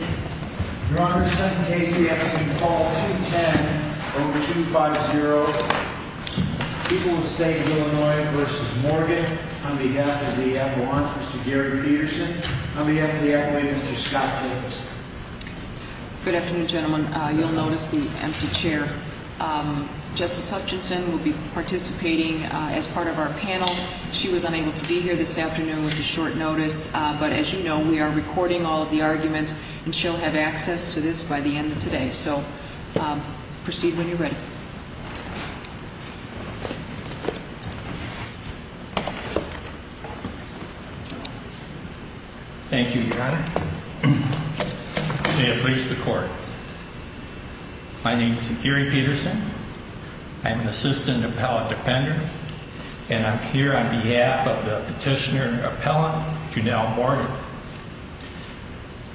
On behalf of the Appalachians, Mr. Gary Peterson. On behalf of the Appalachians, Mr. Scott Jacobson. Good afternoon, gentlemen. You'll notice the empty chair. Justice Hutchinson will be participating as part of our panel. She was unable to be here this afternoon with a short notice. But as you know, we are recording all of the arguments and she'll have access to this by the end of today. So proceed when you're ready. Thank you, Your Honor. May it please the court. My name is Gary Peterson. I'm an assistant appellate defender. And I'm here on behalf of the petitioner appellant, Junelle Morgan.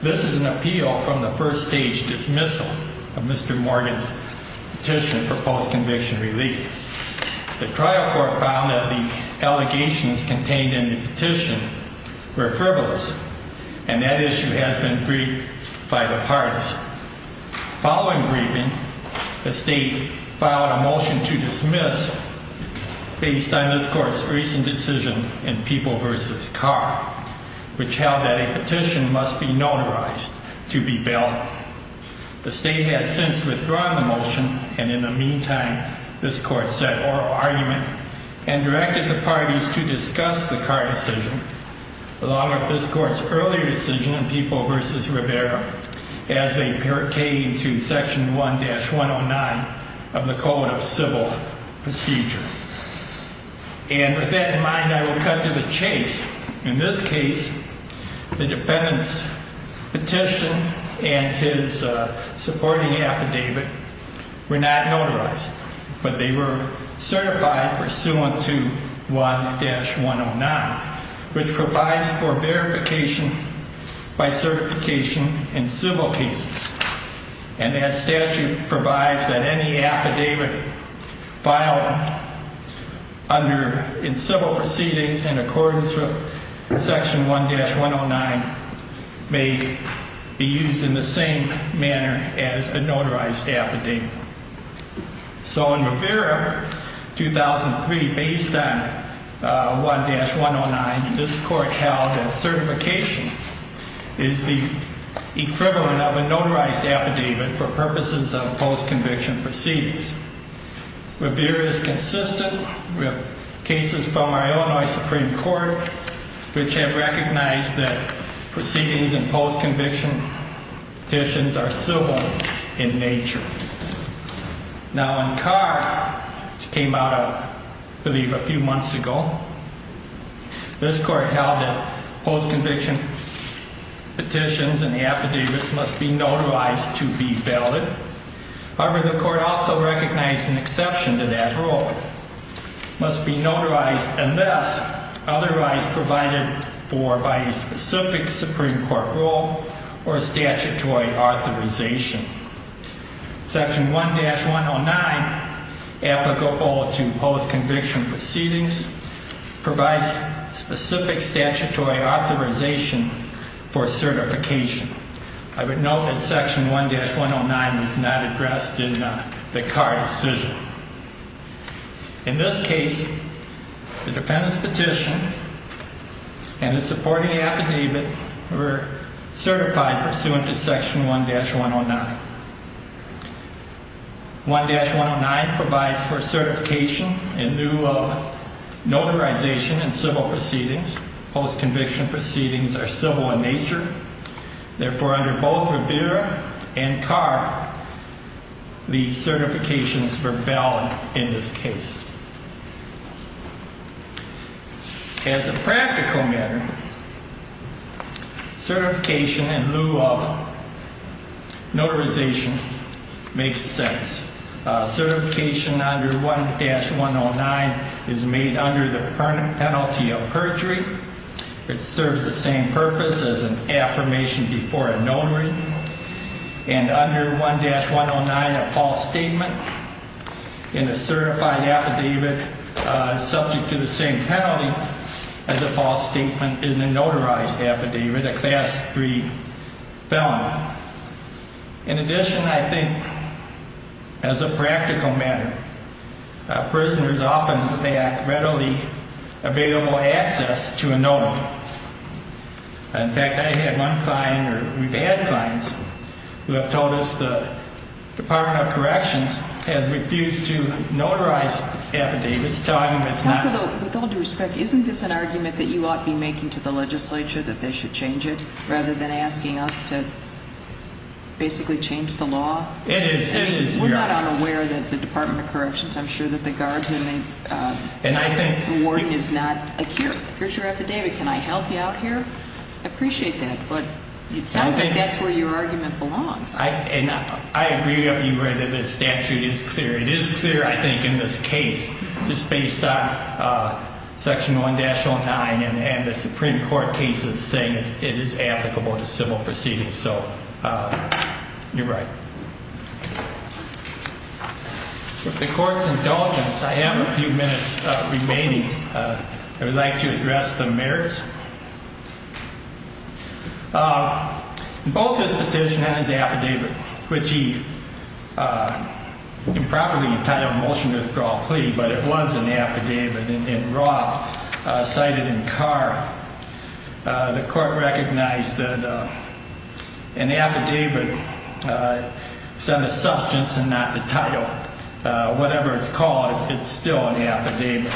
This is an appeal from the first stage dismissal of Mr. Morgan's petition for post-conviction relief. The trial court found that the allegations contained in the petition were frivolous. And that issue has been briefed by the parties. Following briefing, the state filed a motion to dismiss based on this court's recent decision in People v. Carr, which held that a petition must be notarized to be bailed. The state has since withdrawn the motion. And in the meantime, this court set oral argument and directed the parties to discuss the Carr decision. Along with this court's earlier decision in People v. Rivera, as they pertain to Section 1-109 of the Code of Civil Procedure. And with that in mind, I will cut to the chase. In this case, the defendant's petition and his supporting affidavit were not notarized. But they were certified pursuant to 1-109, which provides for verification by certification in civil cases. And that statute provides that any affidavit filed in civil proceedings in accordance with Section 1-109 may be used in the same manner as a notarized affidavit. So in Rivera, 2003, based on 1-109, this court held that certification is the equivalent of a notarized affidavit for purposes of post-conviction proceedings. Rivera is consistent with cases from our Illinois Supreme Court which have recognized that proceedings in post-conviction petitions are civil in nature. Now, in Carr, which came out, I believe, a few months ago, this court held that post-conviction petitions and affidavits must be notarized to be valid. However, the court also recognized an exception to that rule, must be notarized unless otherwise provided for by a specific Supreme Court rule or statutory authorization. Section 1-109 applicable to post-conviction proceedings provides specific statutory authorization for certification. I would note that Section 1-109 was not addressed in the Carr decision. In this case, the defendant's petition and the supporting affidavit were certified pursuant to Section 1-109. 1-109 provides for certification in lieu of notarization in civil proceedings. Post-conviction proceedings are civil in nature. Therefore, under both Rivera and Carr, the certification is for valid in this case. As a practical matter, certification in lieu of notarization makes sense. Certification under 1-109 is made under the penalty of perjury. It serves the same purpose as an affirmation before a notary. And under 1-109, a false statement in a certified affidavit subject to the same penalty as a false statement in a notarized affidavit, a Class 3 felon. In addition, I think, as a practical matter, prisoners often lack readily available access to a notary. In fact, I've had one client, or we've had clients, who have told us the Department of Corrections has refused to notarize affidavits. With all due respect, isn't this an argument that you ought to be making to the legislature that they should change it rather than asking us to basically change the law? It is. We're not unaware that the Department of Corrections, I'm sure that the guards and the warden is not here. Here's your affidavit. Can I help you out here? I appreciate that, but it sounds like that's where your argument belongs. I agree with you where the statute is clear. It is clear, I think, in this case, just based on Section 1-09 and the Supreme Court cases saying it is applicable to civil proceedings. So you're right. With the court's indulgence, I have a few minutes remaining. Both his petition and his affidavit, which he improperly entitled Motion to Withdrawal Plea, but it was an affidavit in Roth, cited in Carr. The court recognized that an affidavit said a substance and not the title. Whatever it's called, it's still an affidavit.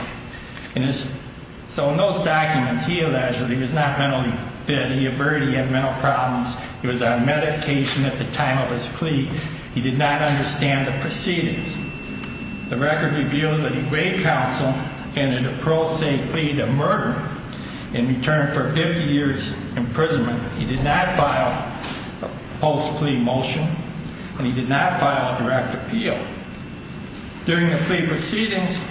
So in those documents, he alleged that he was not mentally fit. He averted he had mental problems. He was on medication at the time of his plea. He did not understand the proceedings. The record reveals that he raked counsel in an appropriate plea to murder in return for 50 years imprisonment. He did not file a post-plea motion and he did not file a direct appeal. During the plea proceedings,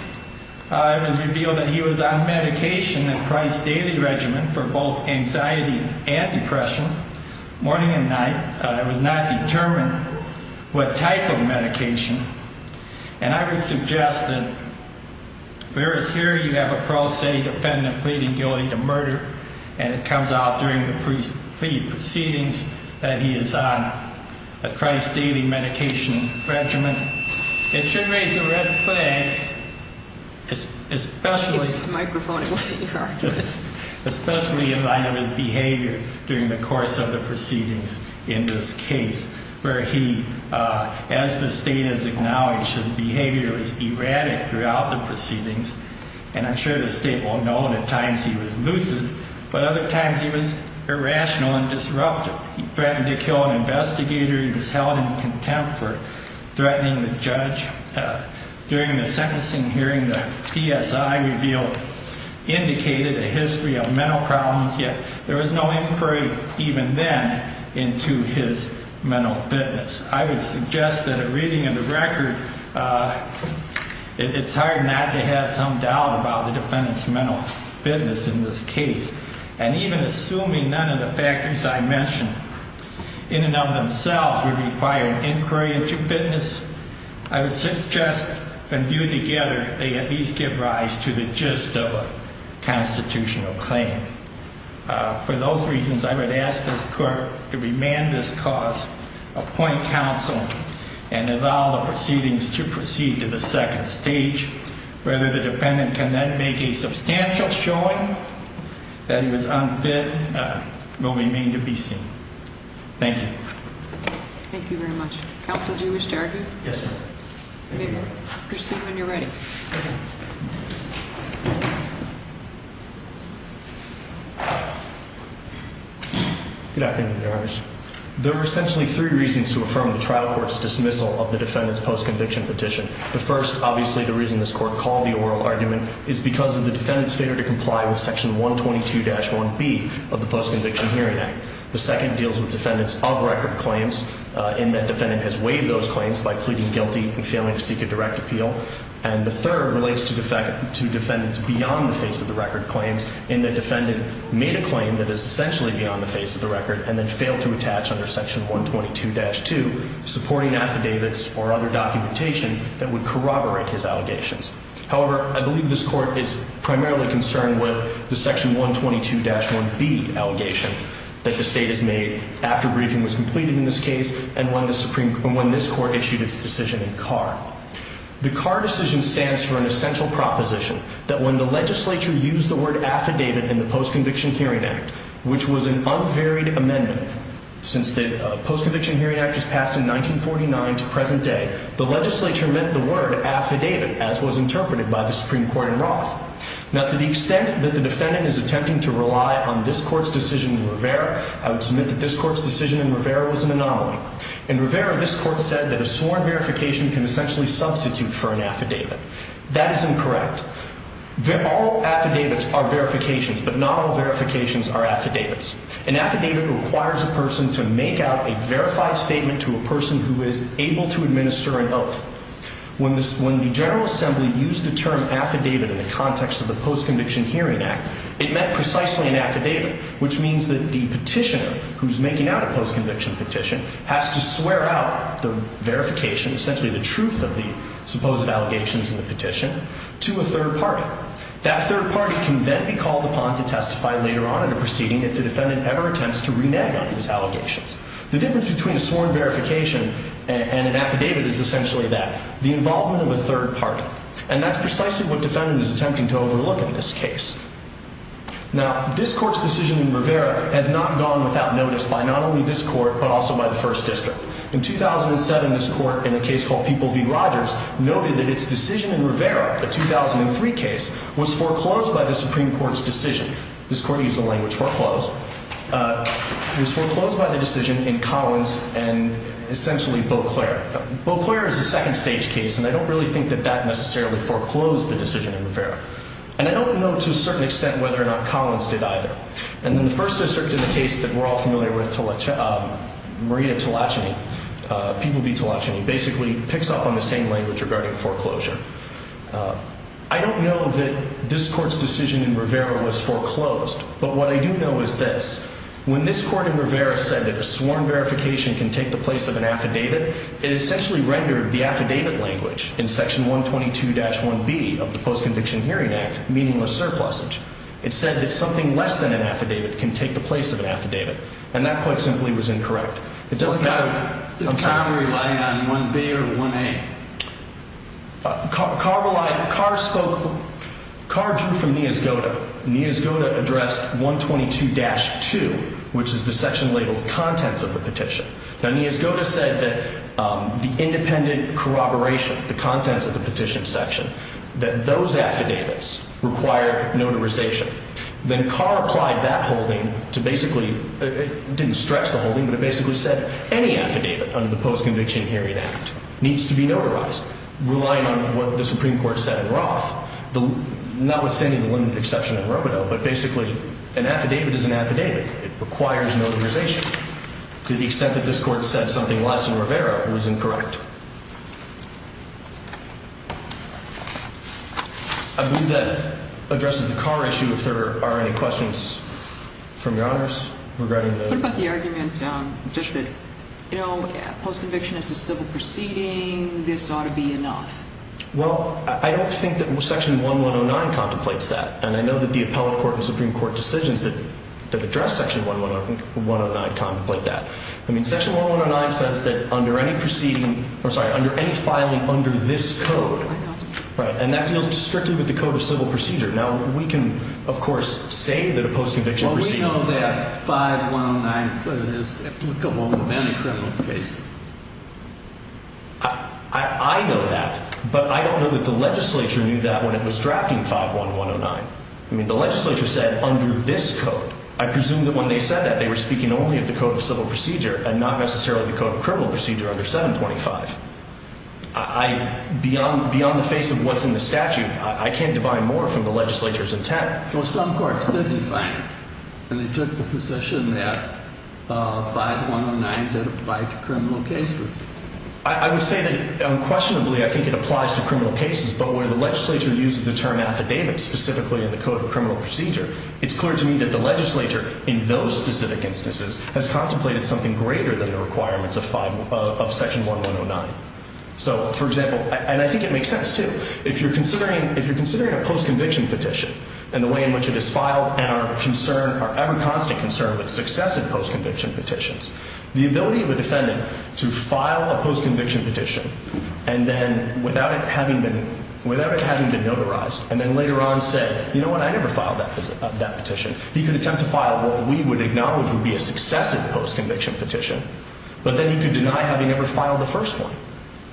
it was revealed that he was on medication at Price Daily Regiment for both anxiety and depression, morning and night. It was not determined what type of medication. And I would suggest that whereas here you have a pro se defendant pleading guilty to murder, and it comes out during the plea proceedings that he is on a Price Daily Medication Regiment, it should raise a red flag, especially in light of his behavior during the course of the proceedings in this case, where he, as the state has acknowledged, his behavior was erratic throughout the proceedings. And I'm sure the state will know that at times he was lucid, but other times he was irrational and disruptive. He threatened to kill an investigator. He was held in contempt for threatening the judge. During the sentencing hearing, the PSI revealed indicated a history of mental problems, yet there was no inquiry even then into his mental fitness. I would suggest that a reading of the record, it's hard not to have some doubt about the defendant's mental fitness in this case. And even assuming none of the factors I mentioned in and of themselves would require an inquiry into fitness, I would suggest when viewed together, they at least give rise to the gist of a constitutional claim. For those reasons, I would ask this court to remand this cause, appoint counsel, and allow the proceedings to proceed to the second stage. Whether the defendant can then make a substantial showing that he was unfit will remain to be seen. Thank you. Thank you very much. Counsel, do you wish to argue? Proceed when you're ready. Good afternoon, Your Honors. There were essentially three reasons to affirm the trial court's dismissal of the defendant's post-conviction petition. The first, obviously the reason this court called the oral argument, is because of the defendant's failure to comply with section 122-1B of the Post-Conviction Hearing Act. The second deals with defendants of record claims in that defendant has waived those claims by pleading guilty and failing to seek a direct appeal. And the third relates to defendants beyond the face of the record claims in that defendant made a claim that is essentially beyond the face of the record and then failed to attach under section 122-2, supporting affidavits or other documentation that would corroborate his allegations. However, I believe this court is primarily concerned with the section 122-1B allegation that the state has made after briefing was completed in this case and when this court issued its decision in Carr. The Carr decision stands for an essential proposition that when the legislature used the word affidavit in the Post-Conviction Hearing Act, which was an unvaried amendment since the Post-Conviction Hearing Act was passed in 1949 to present day, the legislature meant the word affidavit as was interpreted by the Supreme Court in Roth. Now to the extent that the defendant is attempting to rely on this court's decision in Rivera, I would submit that this court's decision in Rivera was an anomaly. In Rivera, this court said that a sworn verification can essentially substitute for an affidavit. That is incorrect. All affidavits are verifications, but not all verifications are affidavits. An affidavit requires a person to make out a verified statement to a person who is able to administer an oath. When the General Assembly used the term affidavit in the context of the Post-Conviction Hearing Act, it meant precisely an affidavit, which means that the petitioner who is making out a post-conviction petition has to swear out the verification, essentially the truth of the supposed allegations in the petition, to a third party. That third party can then be called upon to testify later on in the proceeding if the defendant ever attempts to renege on his allegations. The difference between a sworn verification and an affidavit is essentially that, the involvement of a third party. And that's precisely what the defendant is attempting to overlook in this case. Now, this court's decision in Rivera has not gone without notice by not only this court, but also by the First District. In 2007, this court, in a case called People v. Rogers, noted that its decision in Rivera, a 2003 case, was foreclosed by the Supreme Court's decision. This court used the language foreclosed. It was foreclosed by the decision in Collins and essentially Beauclair. Beauclair is a second-stage case, and I don't really think that that necessarily foreclosed the decision in Rivera. And I don't know, to a certain extent, whether or not Collins did either. And then the First District, in the case that we're all familiar with, Maria Talachany, People v. Talachany, basically picks up on the same language regarding foreclosure. I don't know that this court's decision in Rivera was foreclosed, but what I do know is this. When this court in Rivera said that a sworn verification can take the place of an affidavit, it essentially rendered the affidavit language in Section 122-1B of the Post-Conviction Hearing Act meaningless surplusage. It said that something less than an affidavit can take the place of an affidavit, and that, quite simply, was incorrect. It doesn't matter. What kind were you relying on, 1B or 1A? Carr relied on – Carr spoke – Carr drew from Niazgoda. Niazgoda addressed 122-2, which is the section labeled contents of the petition. Now, Niazgoda said that the independent corroboration, the contents of the petition section, that those affidavits require notarization. Then Carr applied that holding to basically – it didn't stretch the holding, but it basically said any affidavit under the Post-Conviction Hearing Act needs to be notarized, relying on what the Supreme Court said in Roth, notwithstanding the limited exception in Rovado, but basically an affidavit is an affidavit. It requires notarization. To the extent that this Court said something less in Rivera was incorrect. I believe that addresses the Carr issue, if there are any questions from Your Honors regarding the – I wonder about the argument just that, you know, post-conviction is a civil proceeding. This ought to be enough. Well, I don't think that Section 1109 contemplates that, and I know that the appellate court and Supreme Court decisions that address Section 1109 contemplate that. I mean, Section 1109 says that under any proceeding – I'm sorry, under any filing under this code, and that deals strictly with the code of civil procedure. Now, we can, of course, say that a post-conviction proceeding – I know that, but I don't know that the legislature knew that when it was drafting 51109. I mean, the legislature said under this code. I presume that when they said that, they were speaking only of the code of civil procedure and not necessarily the code of criminal procedure under 725. I – beyond the face of what's in the statute, I can't define more from the legislature's intent. Well, some courts did define it, and they took the position that 5109 did apply to criminal cases. I would say that unquestionably I think it applies to criminal cases, but where the legislature uses the term affidavit specifically in the code of criminal procedure, it's clear to me that the legislature in those specific instances has contemplated something greater than the requirements of 5 – of Section 1109. So, for example – and I think it makes sense, too. If you're considering – if you're considering a post-conviction petition and the way in which it is filed and our concern – our ever-constant concern with successive post-conviction petitions, the ability of a defendant to file a post-conviction petition and then without it having been – without it having been notarized and then later on say, you know what, I never filed that petition, he could attempt to file what we would acknowledge would be a successive post-conviction petition, but then he could deny having ever filed the first one.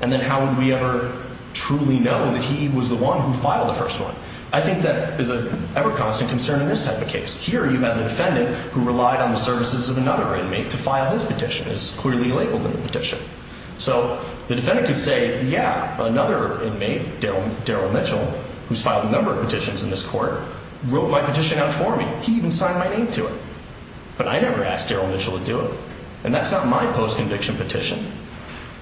And then how would we ever truly know that he was the one who filed the first one? I think that is an ever-constant concern in this type of case. Here you have the defendant who relied on the services of another inmate to file his petition. It's clearly labeled in the petition. So, the defendant could say, yeah, another inmate, Darrell Mitchell, who's filed a number of petitions in this court, wrote my petition out for me. He even signed my name to it. But I never asked Darrell Mitchell to do it. And that's not my post-conviction petition.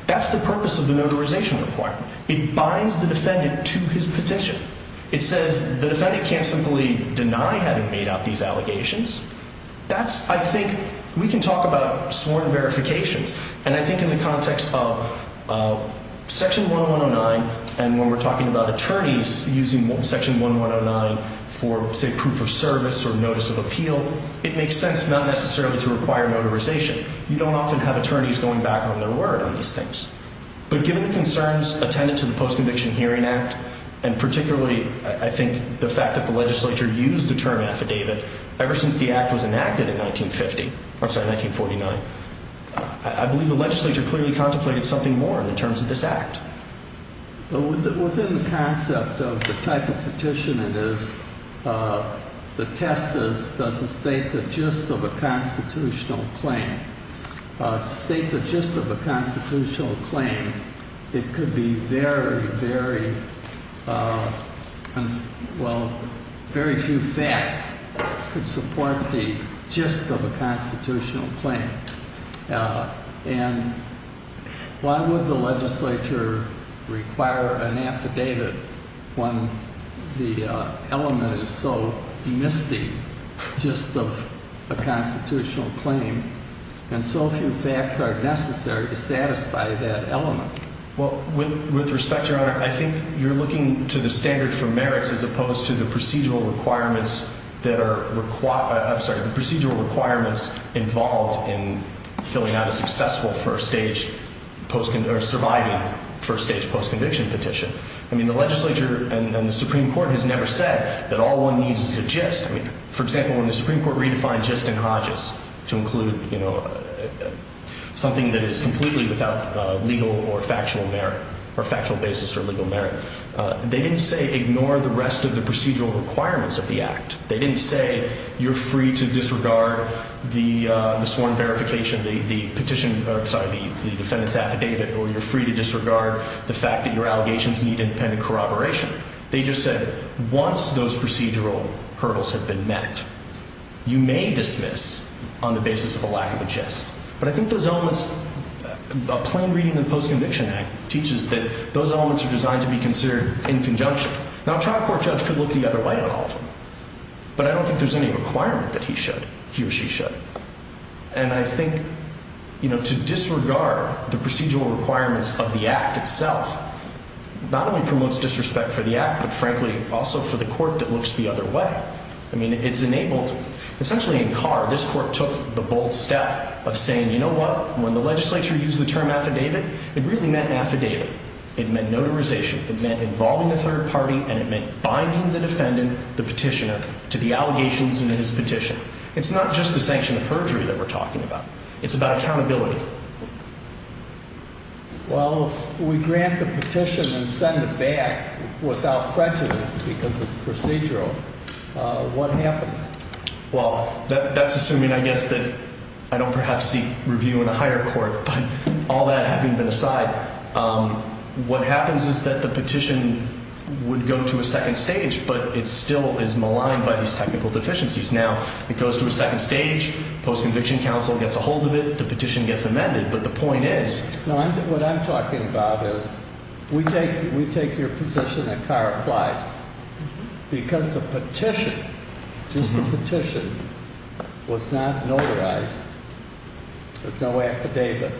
That's the purpose of the notarization requirement. It binds the defendant to his petition. It says the defendant can't simply deny having made out these allegations. That's, I think, we can talk about sworn verifications. And I think in the context of Section 1109, and when we're talking about attorneys using Section 1109 for, say, proof of service or notice of appeal, it makes sense not necessarily to require notarization. You don't often have attorneys going back on their word on these things. But given the concerns attendant to the Post-Conviction Hearing Act, and particularly, I think, the fact that the legislature used the term affidavit ever since the act was enacted in 1950, I'm sorry, 1949, I believe the legislature clearly contemplated something more in the terms of this act. Within the concept of the type of petition it is, the test is, does it state the gist of a constitutional claim? To state the gist of a constitutional claim, it could be very, very, well, very few facts could support the gist of a constitutional claim. And why would the legislature require an affidavit when the element is so misty, gist of a constitutional claim, and so few facts are necessary to satisfy that element? Well, with respect, Your Honor, I think you're looking to the standard for merits as opposed to the procedural requirements that are, I'm sorry, the procedural requirements involved in filling out a successful first-stage, or surviving first-stage post-conviction petition. I mean, the legislature and the Supreme Court has never said that all one needs is a gist. I mean, for example, when the Supreme Court redefined gist in Hodges to include, you know, something that is completely without legal or factual merit, or factual basis or legal merit, they didn't say ignore the rest of the procedural requirements of the act. They didn't say you're free to disregard the sworn verification, the petition, sorry, the defendant's affidavit, or you're free to disregard the fact that your allegations need independent corroboration. They just said once those procedural hurdles have been met, you may dismiss on the basis of a lack of a gist. But I think those elements, a plain reading of the Post-Conviction Act teaches that those elements are designed to be considered in conjunction. Now, a trial court judge could look the other way on all of them, but I don't think there's any requirement that he should, he or she should. And I think, you know, to disregard the procedural requirements of the act itself not only promotes disrespect for the act, but frankly, also for the court that looks the other way. I mean, it's enabled, essentially in Carr, this court took the bold step of saying, you know what, when the legislature used the term affidavit, it really meant affidavit. It meant notarization. It meant involving a third party, and it meant binding the defendant, the petitioner, to the allegations in his petition. It's not just the sanction of perjury that we're talking about. It's about accountability. Well, if we grant the petition and send it back without prejudice because it's procedural, what happens? Well, that's assuming, I guess, that I don't perhaps seek review in a higher court. But all that having been aside, what happens is that the petition would go to a second stage, but it still is maligned by these technical deficiencies. Now, it goes to a second stage. Post-conviction counsel gets a hold of it. The petition gets amended. No, what I'm talking about is we take your position that Carr applies because the petition, just the petition, was not notarized with no affidavit.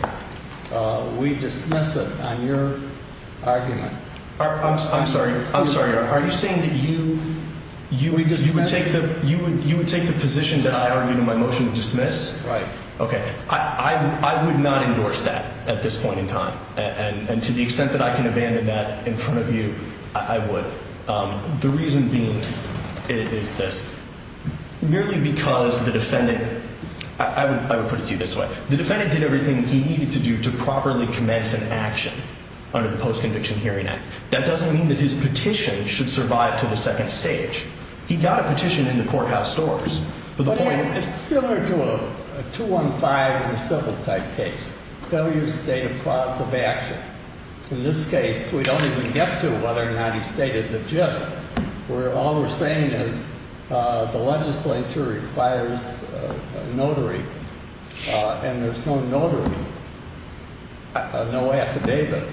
We dismiss it on your argument. I'm sorry. I'm sorry. Are you saying that you would take the position that I argued in my motion to dismiss? Right. Okay. I would not endorse that at this point in time. And to the extent that I can abandon that in front of you, I would. The reason being is this. Merely because the defendant – I would put it to you this way. The defendant did everything he needed to do to properly commence an action under the Post-Conviction Hearing Act. That doesn't mean that his petition should survive to the second stage. He got a petition in the courthouse doors. It's similar to a 215 in a civil type case. Failure to state a cause of action. In this case, we don't even get to whether or not he stated the gist. All we're saying is the legislature requires a notary, and there's no notary, no affidavit.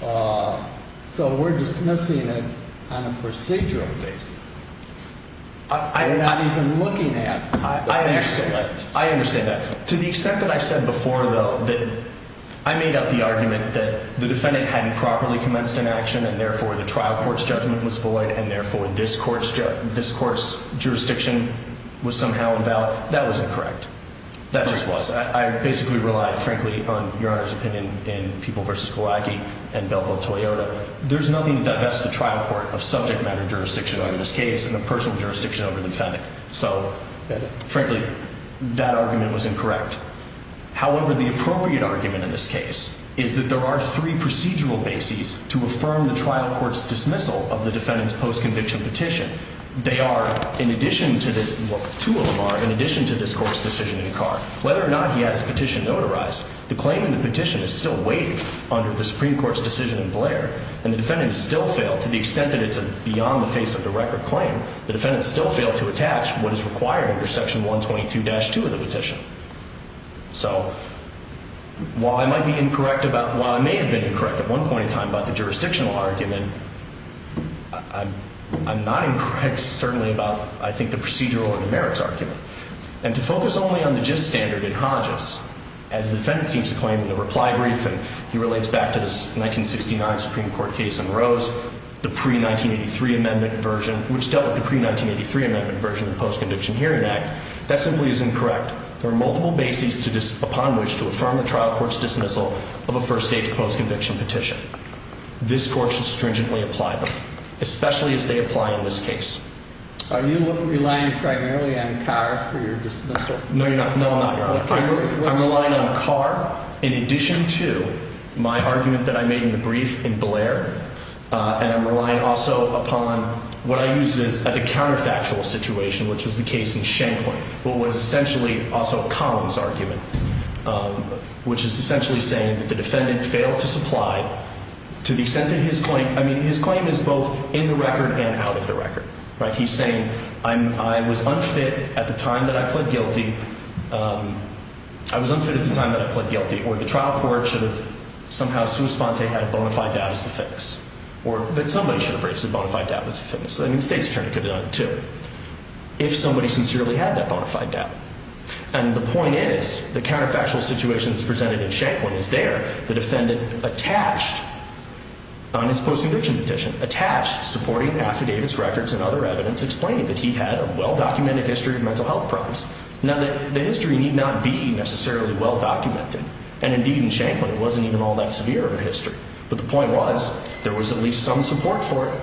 So we're dismissing it on a procedural basis. We're not even looking at the facts of it. I understand that. To the extent that I said before, though, that I made up the argument that the defendant hadn't properly commenced an action, and therefore the trial court's judgment was void, and therefore this court's jurisdiction was somehow invalid. That was incorrect. That just was. I basically relied, frankly, on Your Honor's opinion in People v. Gawacki and Belpo Toyota. There's nothing that bests a trial court of subject matter jurisdiction over this case and a personal jurisdiction over the defendant. So, frankly, that argument was incorrect. However, the appropriate argument in this case is that there are three procedural bases to affirm the trial court's dismissal of the defendant's post-conviction petition. They are, in addition to the – well, two of them are in addition to this court's decision in Carr. Whether or not he had his petition notarized, the claim in the petition is still waived under the Supreme Court's decision in Blair, and the defendant has still failed to the extent that it's a beyond-the-face-of-the-record claim. The defendant still failed to attach what is required under Section 122-2 of the petition. So while I might be incorrect about – while I may have been incorrect at one point in time about the jurisdictional argument, I'm not incorrect, certainly, about, I think, the procedural and the merits argument. And to focus only on the gist standard in Hodges, as the defendant seems to claim in the reply brief, and he relates back to this 1969 Supreme Court case in Rose, the pre-1983 amendment version, which dealt with the pre-1983 amendment version of the Post-Conviction Hearing Act, that simply is incorrect. There are multiple bases to – upon which to affirm the trial court's dismissal of a first-stage post-conviction petition. This court should stringently apply them, especially as they apply in this case. Are you relying primarily on Carr for your dismissal? No, you're not. No, I'm not, Your Honor. I'm relying on Carr in addition to my argument that I made in the brief in Blair, and I'm relying also upon what I used as a counterfactual situation, which was the case in Shankling, what was essentially also Collins' argument, which is essentially saying that the defendant failed to supply to the extent that his claim – He's saying, I was unfit at the time that I pled guilty, I was unfit at the time that I pled guilty, or the trial court should have somehow sui sponte had a bona fide doubt as to fitness, or that somebody should have raised a bona fide doubt as to fitness. I mean, the state's attorney could have done it too, if somebody sincerely had that bona fide doubt. And the point is, the counterfactual situation that's presented in Shankling is there. The defendant attached on his post-conviction petition, attached supporting the affidavits, records, and other evidence, explaining that he had a well-documented history of mental health problems. Now, the history need not be necessarily well-documented, and indeed in Shankling, it wasn't even all that severe of a history. But the point was, there was at least some support for it.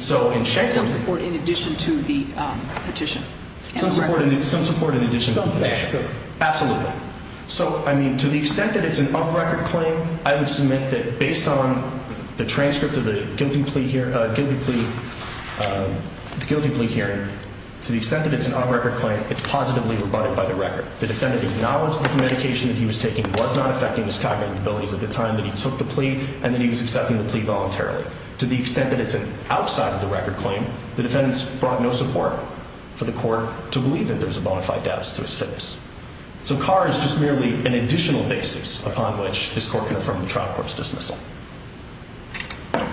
Some support in addition to the petition? Some support in addition to the petition, absolutely. So, I mean, to the extent that it's an off-record claim, I would submit that based on the transcript of the guilty plea hearing, to the extent that it's an off-record claim, it's positively rebutted by the record. The defendant acknowledged that the medication that he was taking was not affecting his cognitive abilities at the time that he took the plea, and that he was accepting the plea voluntarily. To the extent that it's an outside-of-the-record claim, the defendants brought no support for the court to believe that there was a bona fide doubt as to his fitness. So Carr is just merely an additional basis upon which this court can affirm the trial court's dismissal.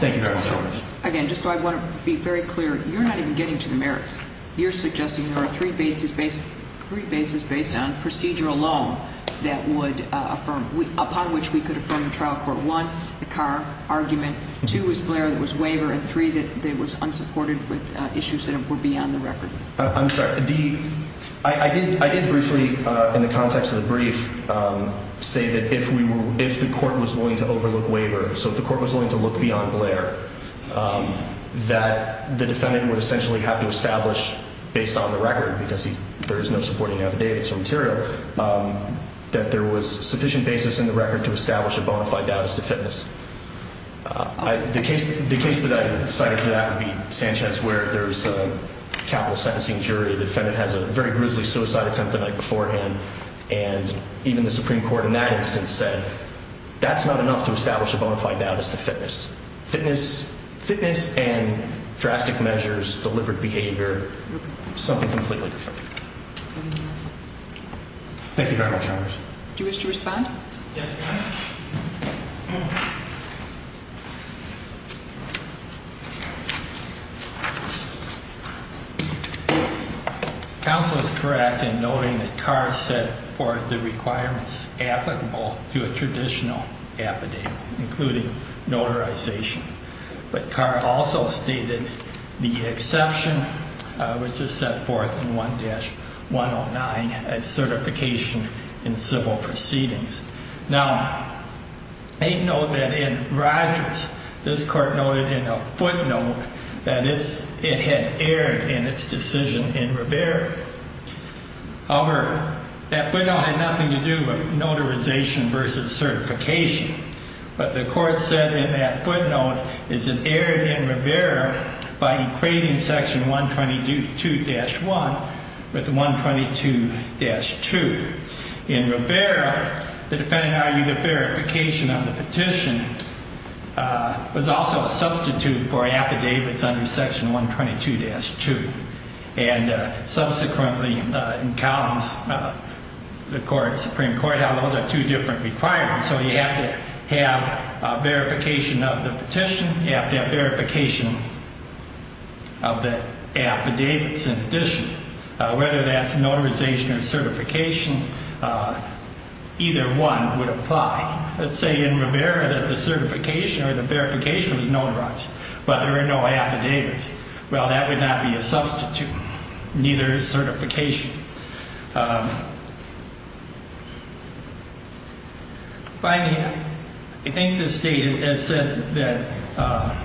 Thank you, Your Honor. Again, just so I want to be very clear, you're not even getting to the merits. You're suggesting there are three bases based on procedure alone that would affirm, upon which we could affirm the trial court. One, the Carr argument. Two, is Blair that was waiver. And three, that it was unsupported with issues that were beyond the record. I'm sorry. I did briefly, in the context of the brief, say that if the court was willing to overlook waiver, so if the court was willing to look beyond Blair, that the defendant would essentially have to establish, based on the record, because there is no supporting affidavits or material, that there was sufficient basis in the record to establish a bona fide doubt as to fitness. The case that I cited for that would be Sanchez, where there's a capital sentencing jury. The defendant has a very grisly suicide attempt the night beforehand, and even the Supreme Court in that instance said that's not enough to establish a bona fide doubt as to fitness. Fitness and drastic measures, deliberate behavior, something completely different. Thank you very much, Your Honor. Do you wish to respond? Yes, Your Honor. Counsel is correct in noting that Carr set forth the requirements applicable to a traditional affidavit, including notarization, but Carr also stated the exception, which is set forth in 1-109, as certification in civil proceedings. Now, I note that in Rogers, this court noted in a footnote that it had erred in its decision in Rivera. However, that footnote had nothing to do with notarization versus certification, but the court said in that footnote is it erred in Rivera by equating Section 122-1 with the 122-2. In Rivera, the defendant argued that verification on the petition was also a substitute for affidavits under Section 122-2. And subsequently in Collins, the Supreme Court held those are two different requirements, so you have to have verification of the petition, you have to have verification of the affidavits. In this case, in addition, whether that's notarization or certification, either one would apply. Let's say in Rivera that the certification or the verification was notarized, but there are no affidavits. Well, that would not be a substitute. Neither is certification. Finally, I think this data has said that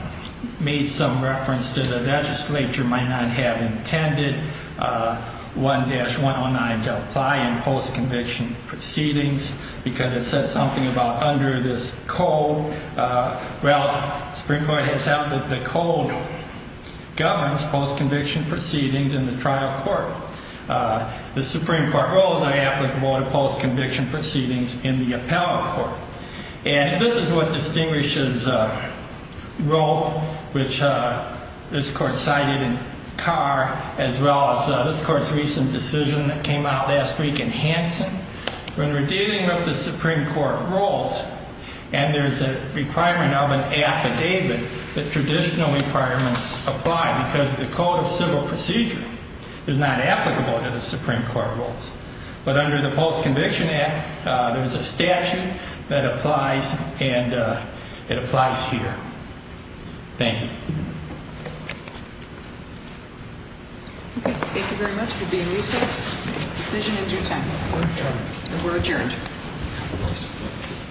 made some reference to the legislature might not have intended 1-109 to apply in post-conviction proceedings because it said something about under this code. Well, the Supreme Court has held that the code governs post-conviction proceedings in the trial court. The Supreme Court rules are applicable to post-conviction proceedings in the appellate court. And this is what distinguishes Roe, which this court cited in Carr, as well as this court's recent decision that came out last week in Hanson. When we're dealing with the Supreme Court rules and there's a requirement of an affidavit, that traditional requirements apply because the code of civil procedure is not applicable to the Supreme Court rules. But under the Post-Conviction Act, there's a statute that applies and it applies here. Thank you. Thank you very much. We'll be in recess. Decision in due time. We're adjourned. We're adjourned.